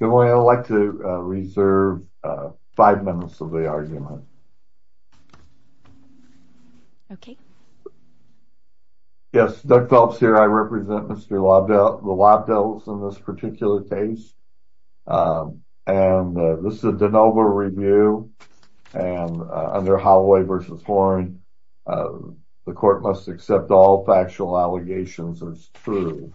Good morning, I'd like to reserve five minutes of the argument. Yes, Doug Phelps here, I represent Mr. Lobdell, the Lobdells in this particular case. And this is a DeNova review, and under Holloway v. Horn, the court must accept all factual allegations as true.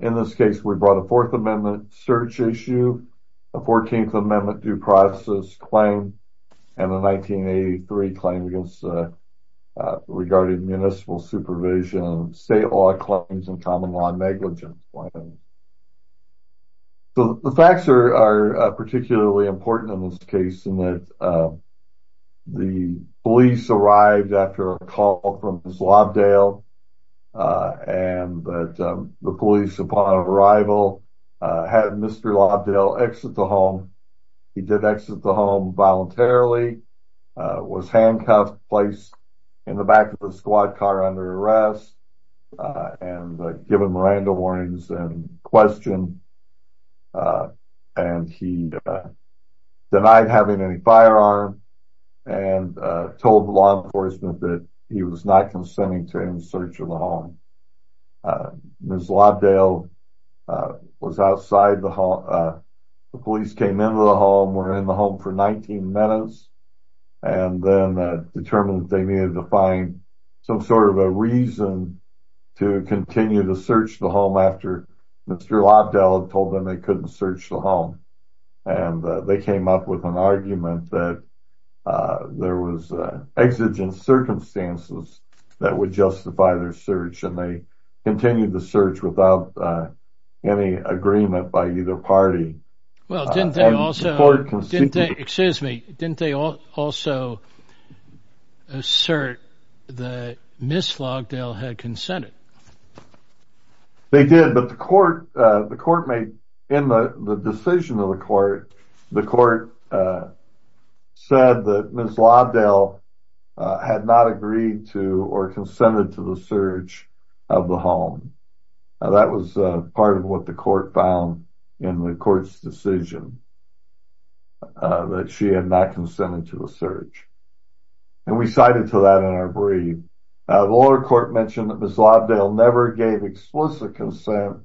In this case, we brought a Fourth Amendment search issue, a Fourteenth Amendment due process claim, and a 1983 claim regarding municipal supervision, state law claims, and common law negligence claims. The facts are particularly important in this case in that the police arrived after a call from Mr. Lobdell, and the police upon arrival had Mr. Lobdell exit the home. He did exit the home voluntarily, was handcuffed, placed in the back of a squad car under arrest, and given Miranda warnings and questioned, and he denied having any firearm, and told law enforcement that he was not consenting to any search of the home. Ms. Lobdell was outside the home, the police came into the home, were in the home for 19 minutes, and then determined that they needed to find some sort of a reason to continue to search the home after Mr. Lobdell had told them they couldn't search the home. And they came up with an argument that there was exigent circumstances that would justify their search, and they continued the search without any agreement by either party. Well, didn't they also, excuse me, didn't they also assert that Ms. Lobdell had consented? They did, but the court made, in the decision of the court, the court said that Ms. Lobdell had not agreed to or consented to the search of the home. That was part of what the court found in the court's decision, that she had not consented to the search. And we cited to that in our brief. The lower court mentioned that Ms. Lobdell never gave explicit consent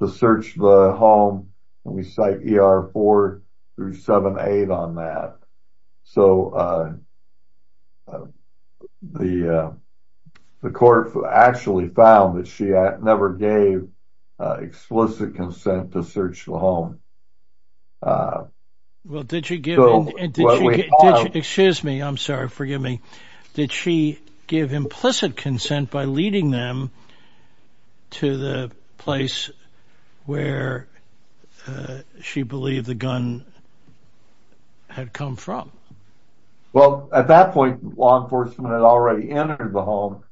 to search the home, and we cite ER 4-7-8 on that. So, the court actually found that she never gave explicit consent to search the home. Well, did she give, excuse me, I'm sorry, forgive me, did she give implicit consent by leading them to the place where she believed the gun had come from? Well, at that point, law enforcement had already entered the home,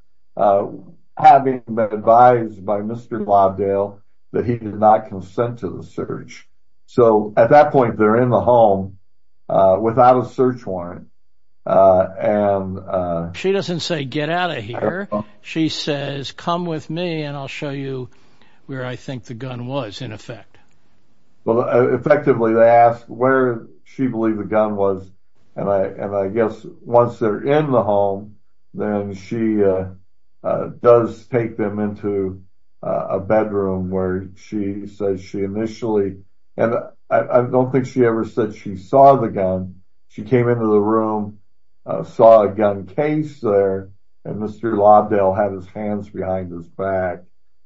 having been advised by Mr. Lobdell that he did not consent to the search. So, at that point, they're in the home without a search warrant. She doesn't say, get out of here. She says, come with me and I'll show you where I think the gun was, in effect. Well, effectively, they asked where she believed the gun was, and I guess once they're in the home, then she does take them into a bedroom where she says she initially, and I don't think she ever said she saw the gun. She came into the room, saw a gun case there, and Mr. Lobdell had his hands behind his back.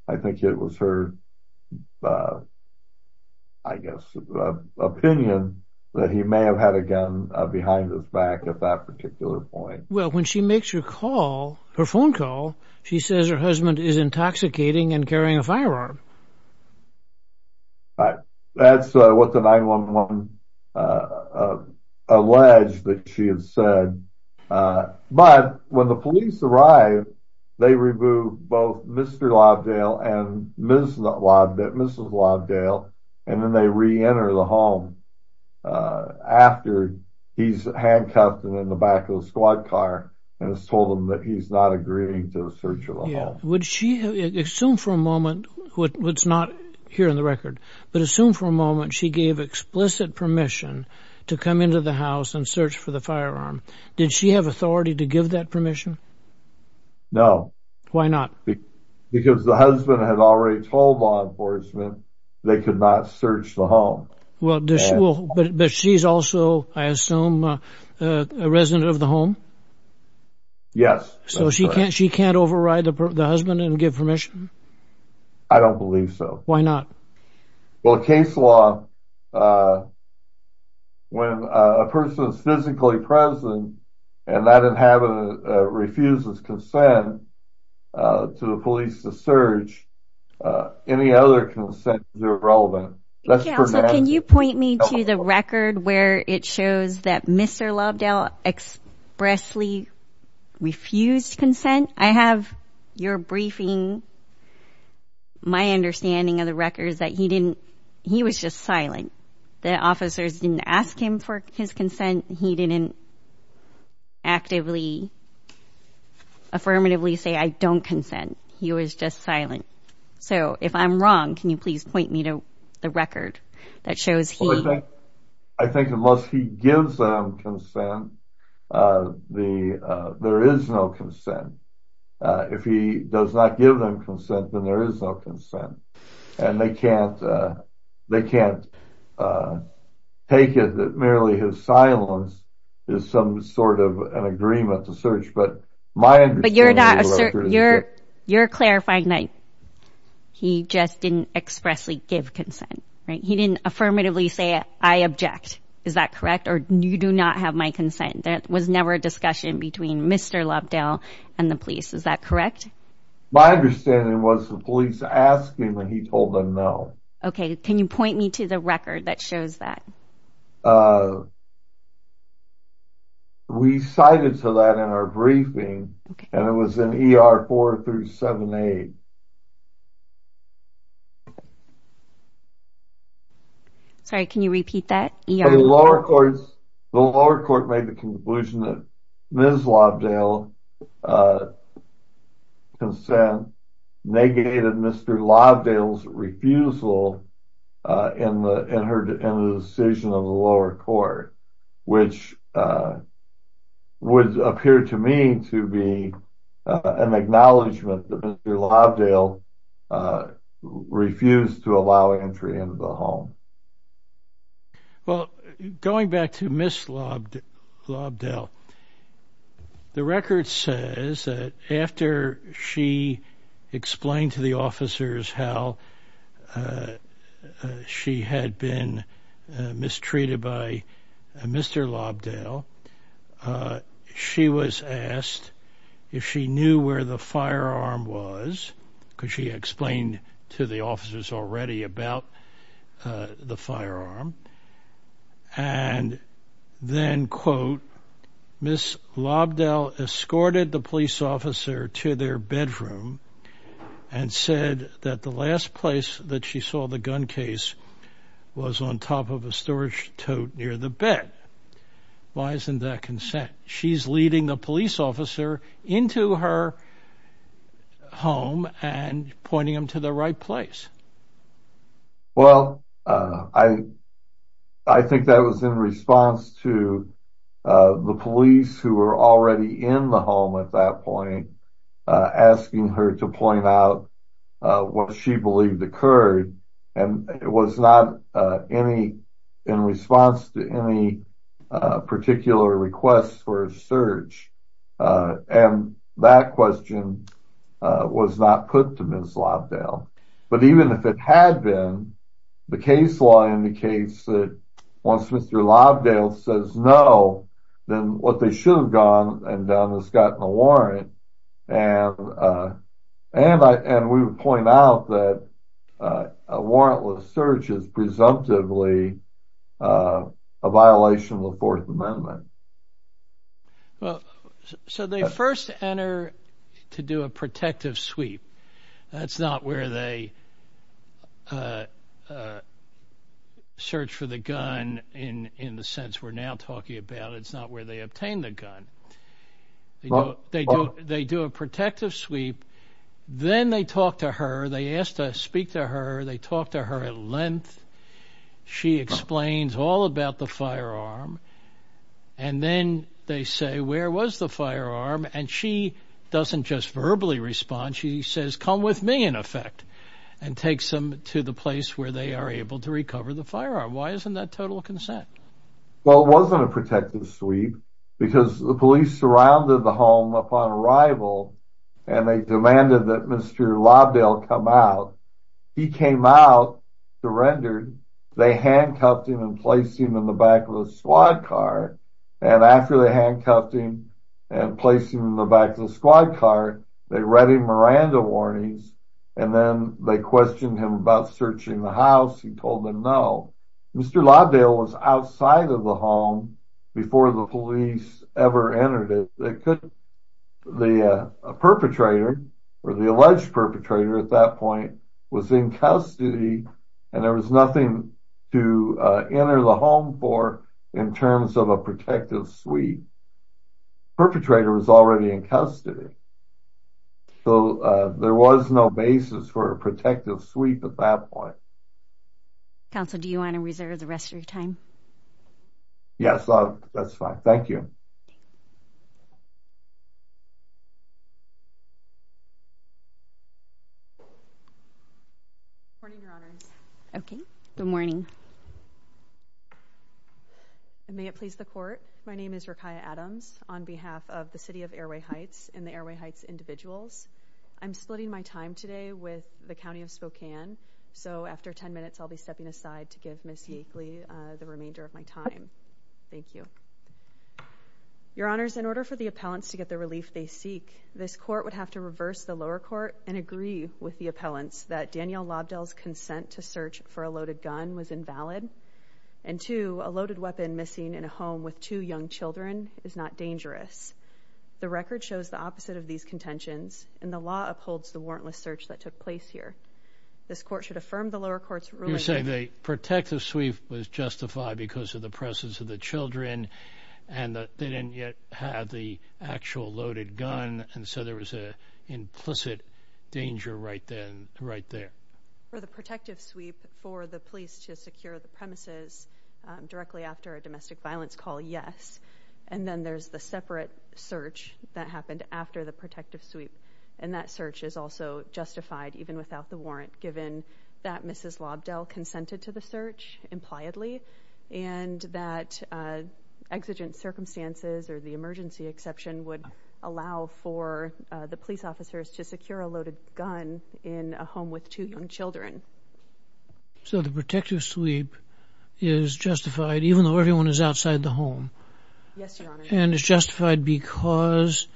I think it was her, I guess, opinion that he may have had a gun behind his back at that particular point. Well, when she makes her call, her phone call, she says her husband is intoxicating and carrying a firearm. That's what the 9-1-1 alleged that she had said, but when the police arrived, they removed both Mr. Lobdell and Mrs. Lobdell, and then they re-enter the home after he's handcuffed and in the back of the squad car and has told them that he's not agreeing to a search of the home. Would she, assume for a moment, what's not here in the record, but assume for a moment she gave explicit permission to come into the house and search for the firearm. Did she have authority to give that permission? No. Why not? Because the husband had already told law enforcement they could not search the home. Well, but she's also, I assume, a resident of the home? Yes. So she can't override the husband and give permission? I don't believe so. Why not? Well, case law, uh, when a person is physically present and that inhabitant refuses consent to the police to search, any other consent is irrelevant. Counsel, can you point me to the record where it shows that Mr. Lobdell expressly refused consent? I have your briefing. My understanding of the record is that he didn't, he was just silent. The officers didn't ask him for his consent. He didn't actively, affirmatively say, I don't consent. He was just silent. So if I'm wrong, can you please point me to the record that shows he... I think unless he gives them consent, uh, the, uh, there is no consent. Uh, if he does not give them consent, then there is no consent and they can't, uh, they can't, uh, take it that merely his silence is some sort of an agreement to search. But my understanding of the record is that... But you're not, you're, you're clarifying that he just didn't expressly give consent, right? He didn't affirmatively say, I object. Is that correct? Or you do not have my consent. That was never a discussion between Mr. Lobdell and the police. Is that correct? My understanding was the police asked him and he told them no. Okay. Can you point me to the record that shows that? Uh, we cited to that in our briefing and it was an ER four through seven, eight. Sorry, can you repeat that? The lower courts, the lower court made the conclusion that Ms. Lobdell, uh, consent negated Mr. Lobdell's refusal, uh, in the, in her decision of the lower court, which, uh, would appear to me to be an acknowledgement that Mr. Lobdell's refusal to give consent to Mr. Lobdell refused to allow entry into the home. Well, going back to Ms. Lobdell, the record says that after she explained to the officers how she had been mistreated by Mr. Lobdell, uh, she was asked if she knew where the firearm was, because she explained to the officers already about, uh, the firearm and then quote, Ms. Lobdell escorted the police officer to their bedroom and said that the last place that she saw the gun case was on top of a storage tote near the bed. Why isn't that consent? She's leading the police officer into her home and pointing them to the right place. Well, uh, I, I think that was in response to, uh, the police who were already in the home at that point, uh, asking her to point out, uh, what she believed occurred. And it was not, uh, any in response to any, uh, requests for a search. Uh, and that question, uh, was not put to Ms. Lobdell. But even if it had been, the case law indicates that once Mr. Lobdell says no, then what they should have gone and done is gotten a warrant. And, uh, and I, and we would point out that, uh, a warrantless search is presumptively, uh, a violation of the fourth amendment. Well, so they first enter to do a protective sweep. That's not where they, uh, uh, search for the gun in, in the sense we're now talking about. It's not where they obtained the gun. They do a protective sweep. Then they talk to her. They asked to speak to her. They talked to her at length. She explains all about the firearm. And then they say, where was the firearm? And she doesn't just verbally respond. She says, come with me in effect and take some to the place where they are able to recover the firearm. Why isn't that total consent? Well, it wasn't a protective sweep because the police surrounded the home upon arrival and they demanded that Mr. Lobdell come out. He came out, surrendered. They handcuffed him and placed him in the back of the squad car. And after they handcuffed him and placed him in the back of the squad car, they read him Miranda warnings. And then they questioned him about searching the house. He told them no. Mr. Lobdell was outside of the home before the police ever entered it. The perpetrator or the alleged perpetrator at that point was in custody and there was nothing to enter the home for in terms of a protective sweep. Perpetrator was already in custody. So there was no basis for a protective sweep at that point. Counsel, do you want to reserve the rest of your time? Yes, that's fine. Thank you. Morning, Your Honors. Okay, good morning. May it please the court. My name is Rekia Adams on behalf of the City of Airway Heights and the Airway Heights individuals. I'm splitting my time today with the County of Spokane. So after 10 minutes, I'll be stepping aside to give Miss Yakeley the remainder of my time. Thank you. Your Honors, in order for the appellants to get the relief they seek, this court would have to reverse the lower court and agree with the appellants that Danielle Lobdell's consent to search for a loaded gun was invalid. And two, a loaded weapon missing in a home with two young children is not dangerous. The record shows the opposite of these contentions and the law upholds the warrantless search that took place here. This court should affirm the lower court's ruling. You're saying the protective sweep was justified because of the presence of the children and they didn't yet have the actual loaded gun. And so there was an implicit danger right then, right there. For the protective sweep for the police to secure the premises directly after a domestic violence call, yes. And then there's the separate search that happened after the sweep. And that search is also justified even without the warrant, given that Mrs. Lobdell consented to the search, impliedly, and that exigent circumstances or the emergency exception would allow for the police officers to secure a loaded gun in a home with two young children. So the protective sweep is justified even though everyone is outside the home. Yes, Your Honor. And it's justified because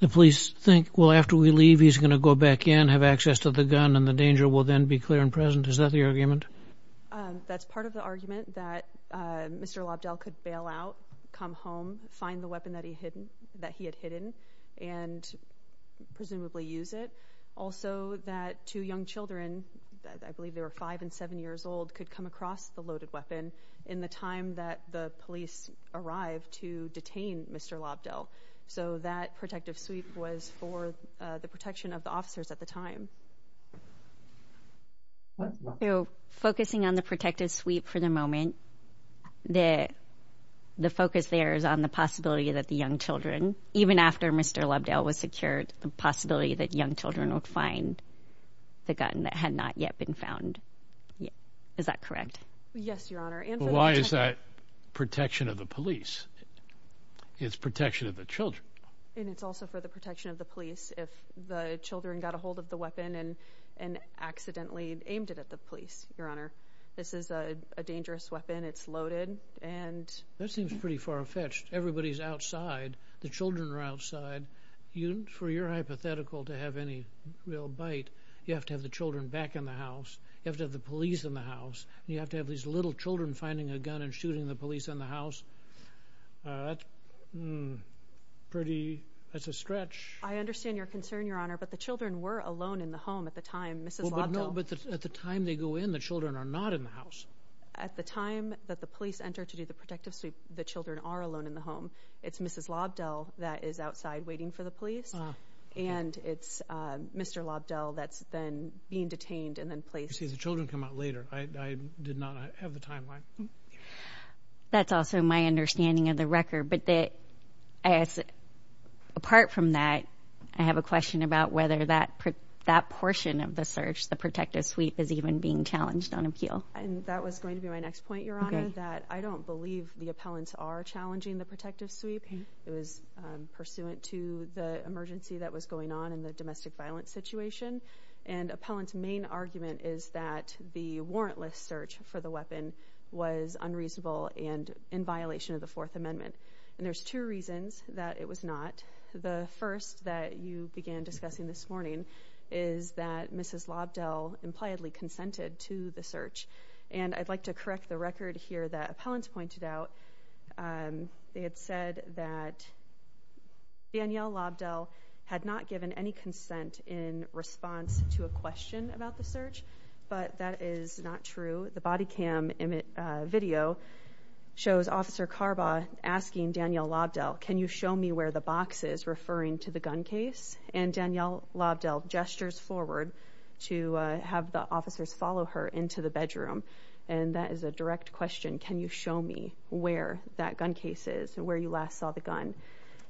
the police think, well, after we leave he's going to go back in, have access to the gun, and the danger will then be clear and present. Is that the argument? That's part of the argument that Mr. Lobdell could bail out, come home, find the weapon that he had hidden and presumably use it. Also that two young children, I believe they were five and seven years old, could come across the loaded weapon in the time that the police arrived to detain Mr. Lobdell. So that protective sweep was for the protection of the officers at the time. Focusing on the protective sweep for the moment, the focus there is on the possibility that the young children, even after Mr. Lobdell was secured, the possibility that young children would find the gun that had not yet been found. Is that correct? Yes, Your Honor. And why is that protection of the police? It's protection of the children. And it's also for the protection of the police if the children got a hold of the weapon and accidentally aimed it at the police, Your Honor. This is a dangerous weapon. It's loaded. And that seems pretty far-fetched. Everybody's outside. The children are outside. For your hypothetical to have any real bite, you have to have the children back in the house. You have to have the police in the house. And you have to have these little children finding a gun and shooting the police in the house. That's pretty, that's a stretch. I understand your concern, Your Honor. But the children were alone in the home at the time, Mrs. Lobdell. But at the time they go in, the children are not in the house. At the time that the police enter to do the protective sweep, the children are alone in the home. It's Mrs. Lobdell that is outside waiting for the police. And it's Mr. Lobdell that's then being detained and then placed. You say the children come out later. I did not have the timeline. That's also my understanding of the record. But apart from that, I have a question about whether that portion of the search, the protective sweep, is even being challenged on appeal. And that was going to be my next point, Your Honor, that I don't believe the appellants are challenging the protective sweep. It was pursuant to the emergency that was going on in the domestic violence situation. And appellant's main argument is that the warrantless search for the weapon was unreasonable and in violation of the Fourth Amendment. And there's two reasons that it was not. The first that you began discussing this morning is that Mrs. Lobdell impliedly consented to the search. And I'd like to correct the record here that appellants pointed out. They had said that Danielle Lobdell had not given any consent in response to a question about the search. But that is not true. The body cam video shows Officer Carbaugh asking Danielle Lobdell, can you show me where the box is referring to the gun case? And Danielle Lobdell gestures forward to have the officers follow her into the bedroom. And that is a direct question. Can you show me where that gun case is and where you last saw the gun?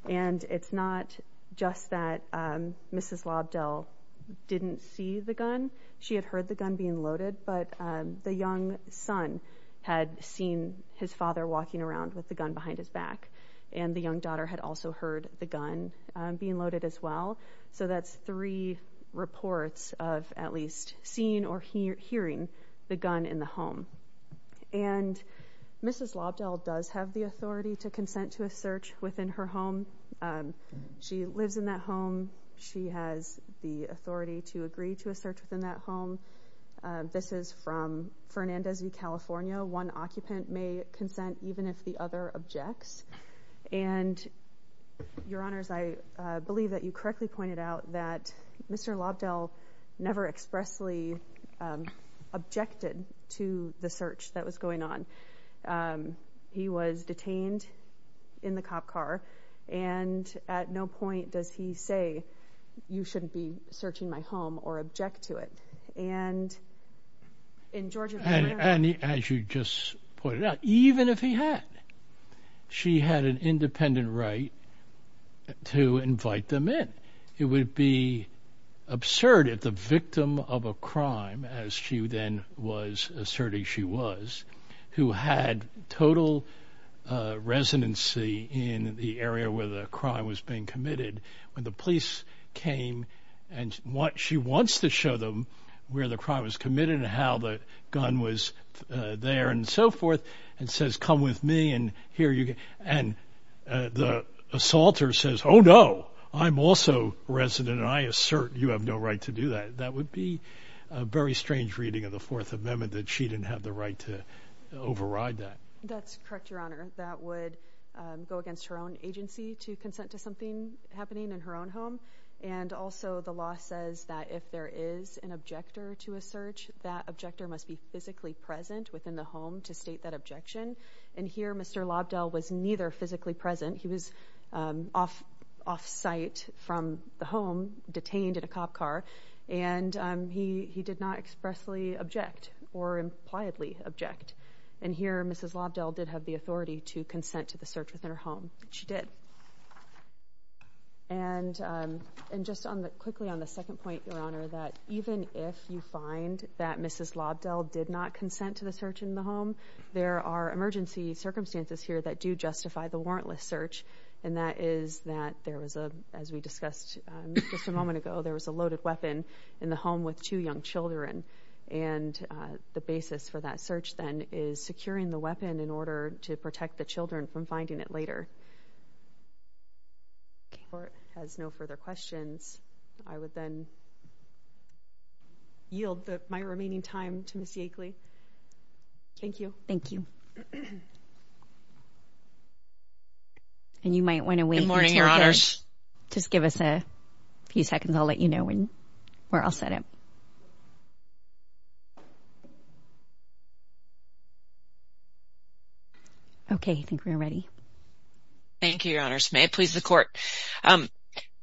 And it's not just that Mrs. Lobdell didn't see the gun. She had heard the gun being loaded. But the young son had seen his father walking around with the gun behind his back. And the young daughter had also heard the gun being loaded as well. So that's three reports of at least seeing or hearing the gun in the home. And Mrs. Lobdell does have the authority to consent to a search within her home. She lives in that home. She has the authority to agree to a search within that home. This is from Fernandez v. California. One occupant may consent even if the other objects. And your honors, I believe that you correctly pointed out that Mr. Lobdell never expressly um objected to the search that was going on. He was detained in the cop car and at no point does he say you shouldn't be searching my home or object to it. And in Georgia. And as you just pointed out, even if he had, she had an independent right to invite them in. It would be absurd if the of a crime, as she then was asserting she was, who had total residency in the area where the crime was being committed. When the police came and what she wants to show them where the crime was committed and how the gun was there and so forth and says, come with me and here you go. And the assaulter says, oh, no, I'm also resident. I assert you have no right to do that. That would be a very strange reading of the Fourth Amendment that she didn't have the right to override that. That's correct, your honor. That would go against her own agency to consent to something happening in her own home. And also the law says that if there is an objector to a search, that objector must be physically present within the home to state that objection. And here Mr. Lobdell was neither physically present. He was off off site from the home detained in a cop car, and he he did not expressly object or impliedly object. And here Mrs. Lobdell did have the authority to consent to the search within her home. She did. And and just on the quickly on the second point, your honor, that even if you find that Mrs. Lobdell did not consent to the search in the home, there are emergency circumstances here that do justify the warrantless search. And that is that there was a as we discussed just a moment ago, there was a loaded weapon in the home with two young children. And the basis for that search then is securing the weapon in order to protect the children from finding it later. Court has no further questions. I would then yield my remaining time to Ms. Yakely. Thank you. Thank you. And you might want to wait. Just give us a few seconds. I'll let you know when we're all set up. Okay, I think we're ready. Thank you, your honors. May it please the court.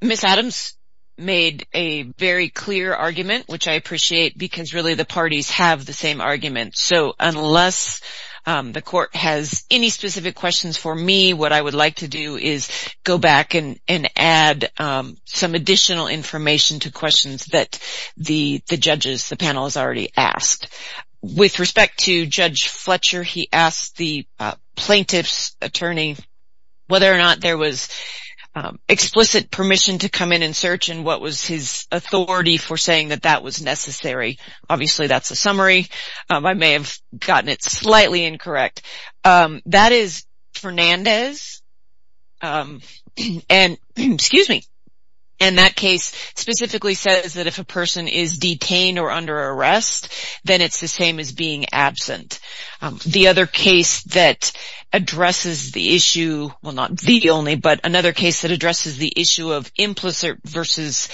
Ms. Adams made a very clear argument, which I appreciate because really the parties have the argument. So unless the court has any specific questions for me, what I would like to do is go back and add some additional information to questions that the judges, the panel has already asked. With respect to Judge Fletcher, he asked the plaintiff's attorney whether or not there was explicit permission to come in and search and what was his authority for saying that that was obviously that's a summary. I may have gotten it slightly incorrect. That is Fernandez. And that case specifically says that if a person is detained or under arrest, then it's the same as being absent. The other case that addresses the issue, well not the only, but another case that addresses the issue of implicit versus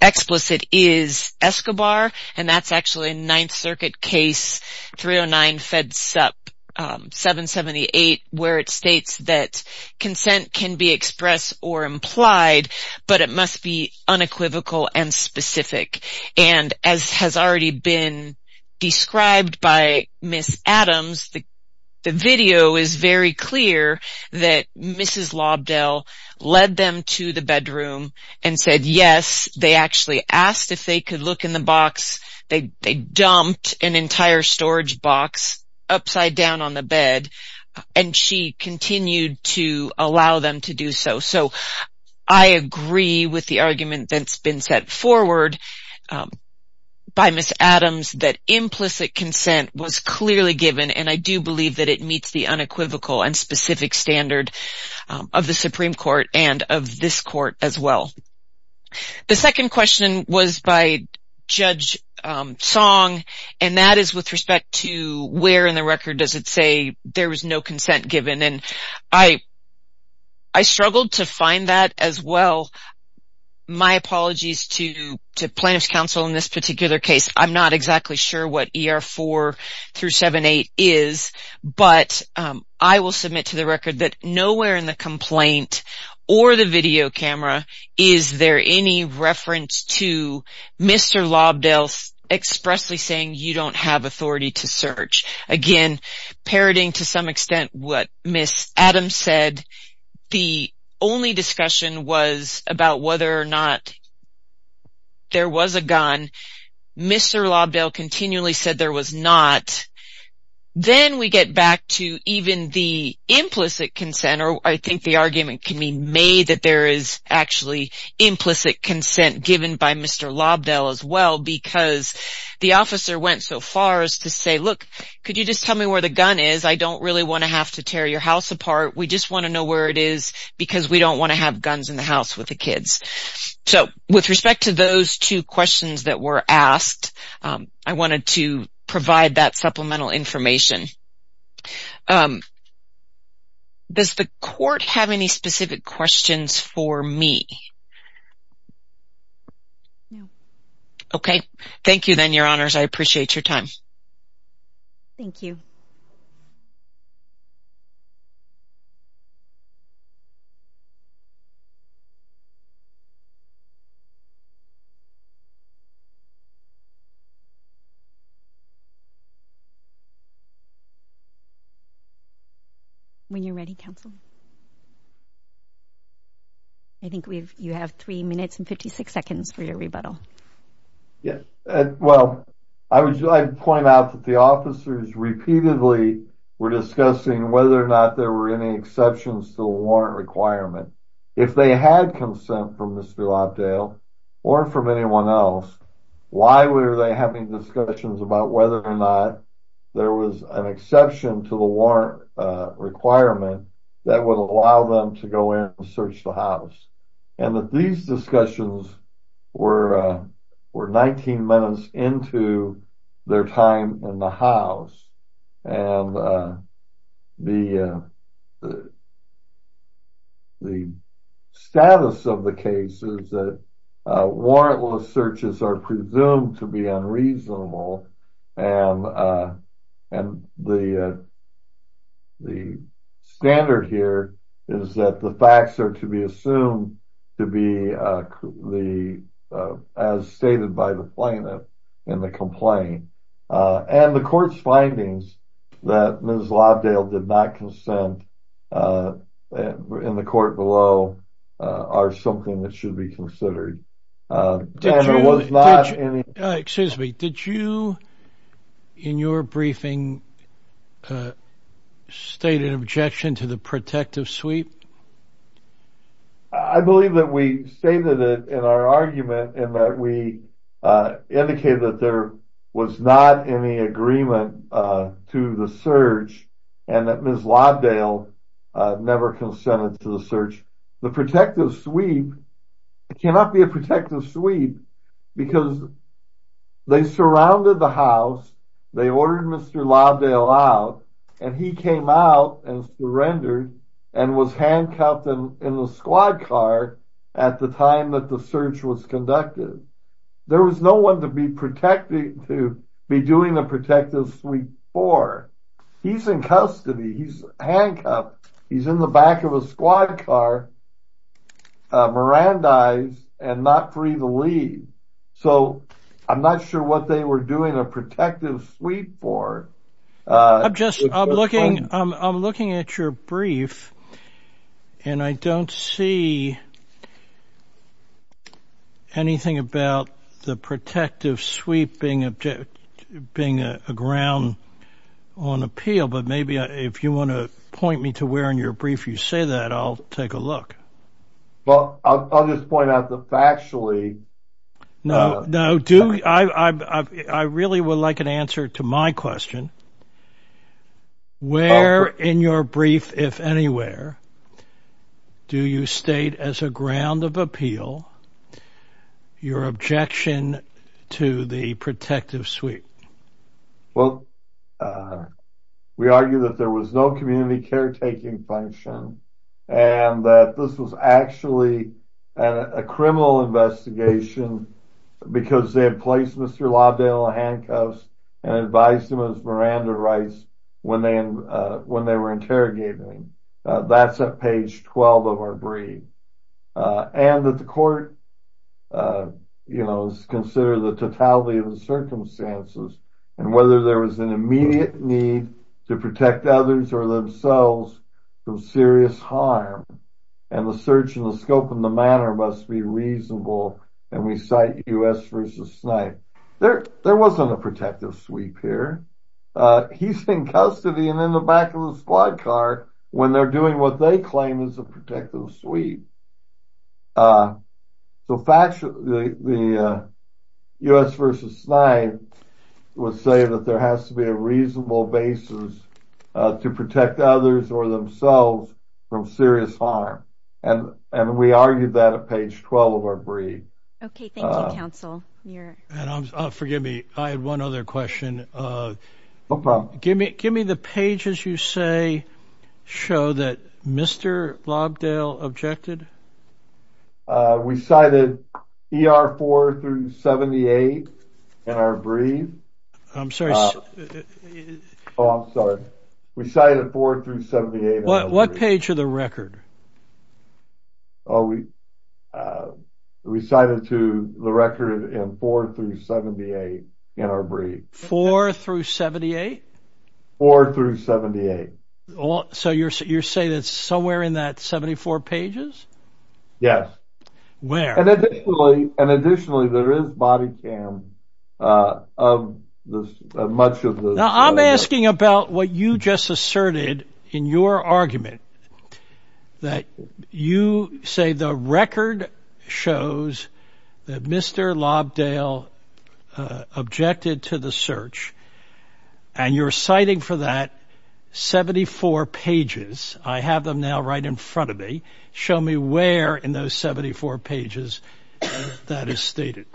explicit is Escobar. And that's actually a Ninth Circuit case 309 Fed Sup 778, where it states that consent can be expressed or implied, but it must be unequivocal and specific. And as has already been described by Ms. Adams, the video is very clear that Mrs. Lobdell led them to the bedroom and said yes. They actually asked if they could look in the box. They dumped an entire storage box upside down on the bed and she continued to allow them to do so. So I agree with the argument that's been set forward by Ms. Adams that implicit consent was clearly given and I do believe that it meets the unequivocal and specific standard of the Supreme Court and of this court as well. The second question was by Judge Song and that is with respect to where in the record does it say there was no consent given. And I struggled to find that as well. My apologies to Plaintiffs Counsel in this particular case. I'm not exactly sure what ER 4-78 is, but I will submit to the record that nowhere in the complaint or the video camera is there any reference to Mr. Lobdell expressly saying you don't have authority to search. Again, parroting to some extent what Ms. Adams said, the only discussion was about whether or not there was a gun. Mr. Lobdell continually said there was not. Then we get back to even the implicit consent or I think the argument can be made that there is actually implicit consent given by Mr. Lobdell as well because the officer went so far as to say, look, could you just tell me where the gun is? I don't really want to have to tear your house apart. We just want to know where it is because we don't want to have guns in the house with the kids. So with respect to those two questions that were asked, I wanted to provide that supplemental information. Does the court have any specific questions for me? No. Okay. Thank you then, Your Honors. I appreciate your time. Thank you. When you're ready, counsel. I think you have three minutes and 56 seconds for your rebuttal. Yeah, well, I would like to point out that the officers repeatedly were discussing whether or not there were any exceptions to the warrant requirement. If they had consent from Mr. Lobdell or from anyone else, why were they having discussions about whether or not there was an exception to the warrant requirement that would allow them to go in and search the house? And that these discussions were 19 minutes into their time in the house. And the status of the case is that warrantless searches are presumed to be unreasonable. And the standard here is that the facts are to be assumed to be as stated by the plaintiff in the complaint. And the court's findings that Ms. Lobdell did not consent in the court below are something that should be considered. There was not any... Excuse me. Did you, in your briefing, state an objection to the protective sweep? I believe that we stated it in our argument and that we indicated that there was not any agreement to the search and that Ms. Lobdell never consented to the search. The protective sweep cannot be a protective sweep because they surrounded the house, they ordered Mr. Lobdell out, and he came out and surrendered and was handcuffed in the squad car at the time that the search was conducted. There was no one to be doing the protective sweep for. He's in custody. He's handcuffed. He's in the back of a squad car, mirandized, and not free to leave. So I'm not sure what they were doing a protective sweep for. I'm looking at your brief and I don't see anything about the protective sweep being a ground on appeal, but maybe if you want to point me to where in your brief you say that, I'll take a look. Well, I'll just point out that factually... No, I really would like an answer to my question. Where in your brief, if anywhere, do you state as a ground of appeal your objection to the protective sweep? Well, we argue that there was no community caretaking function and that this was actually a criminal investigation because they had placed Mr. Lobdell in handcuffs and advised him as Miranda Rice when they were interrogating him. That's at page 12 of our brief. And that the court would consider the totality of the circumstances and whether there was an immediate need to protect others or themselves from serious harm. And the search and the scope and the manner must be reasonable. And we cite U.S. v. Snipe. There wasn't a protective sweep here. He's in custody and in the back of the squad car when they're doing what they claim is a protective sweep. So, factually, the U.S. v. Snipe was saying that there has to be a reasonable basis to protect others or themselves from serious harm. And we argued that at page 12 of our brief. Okay, thank you, counsel. And forgive me, I had one other question. No problem. Give me the pages you say show that Mr. Lobdell objected? Uh, we cited ER 4 through 78 in our brief. I'm sorry. Oh, I'm sorry. We cited 4 through 78. What page of the record? Oh, we, uh, we cited to the record in 4 through 78 in our brief. 4 through 78? 4 through 78. So you're saying it's somewhere in that 74 pages? Yes. Where? And additionally, there is body cam of much of the... Now, I'm asking about what you just asserted in your argument. That you say the record shows that Mr. Lobdell objected to the search. And you're citing for that 74 pages. I have them now right in front of me. Show me where in those 74 pages that is stated.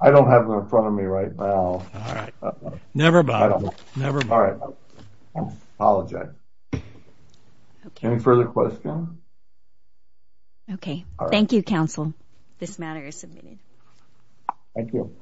I don't have them in front of me right now. All right. Never mind. Never mind. All right. I apologize. Any further questions? Okay. Thank you, Council. This matter is submitted. Thank you.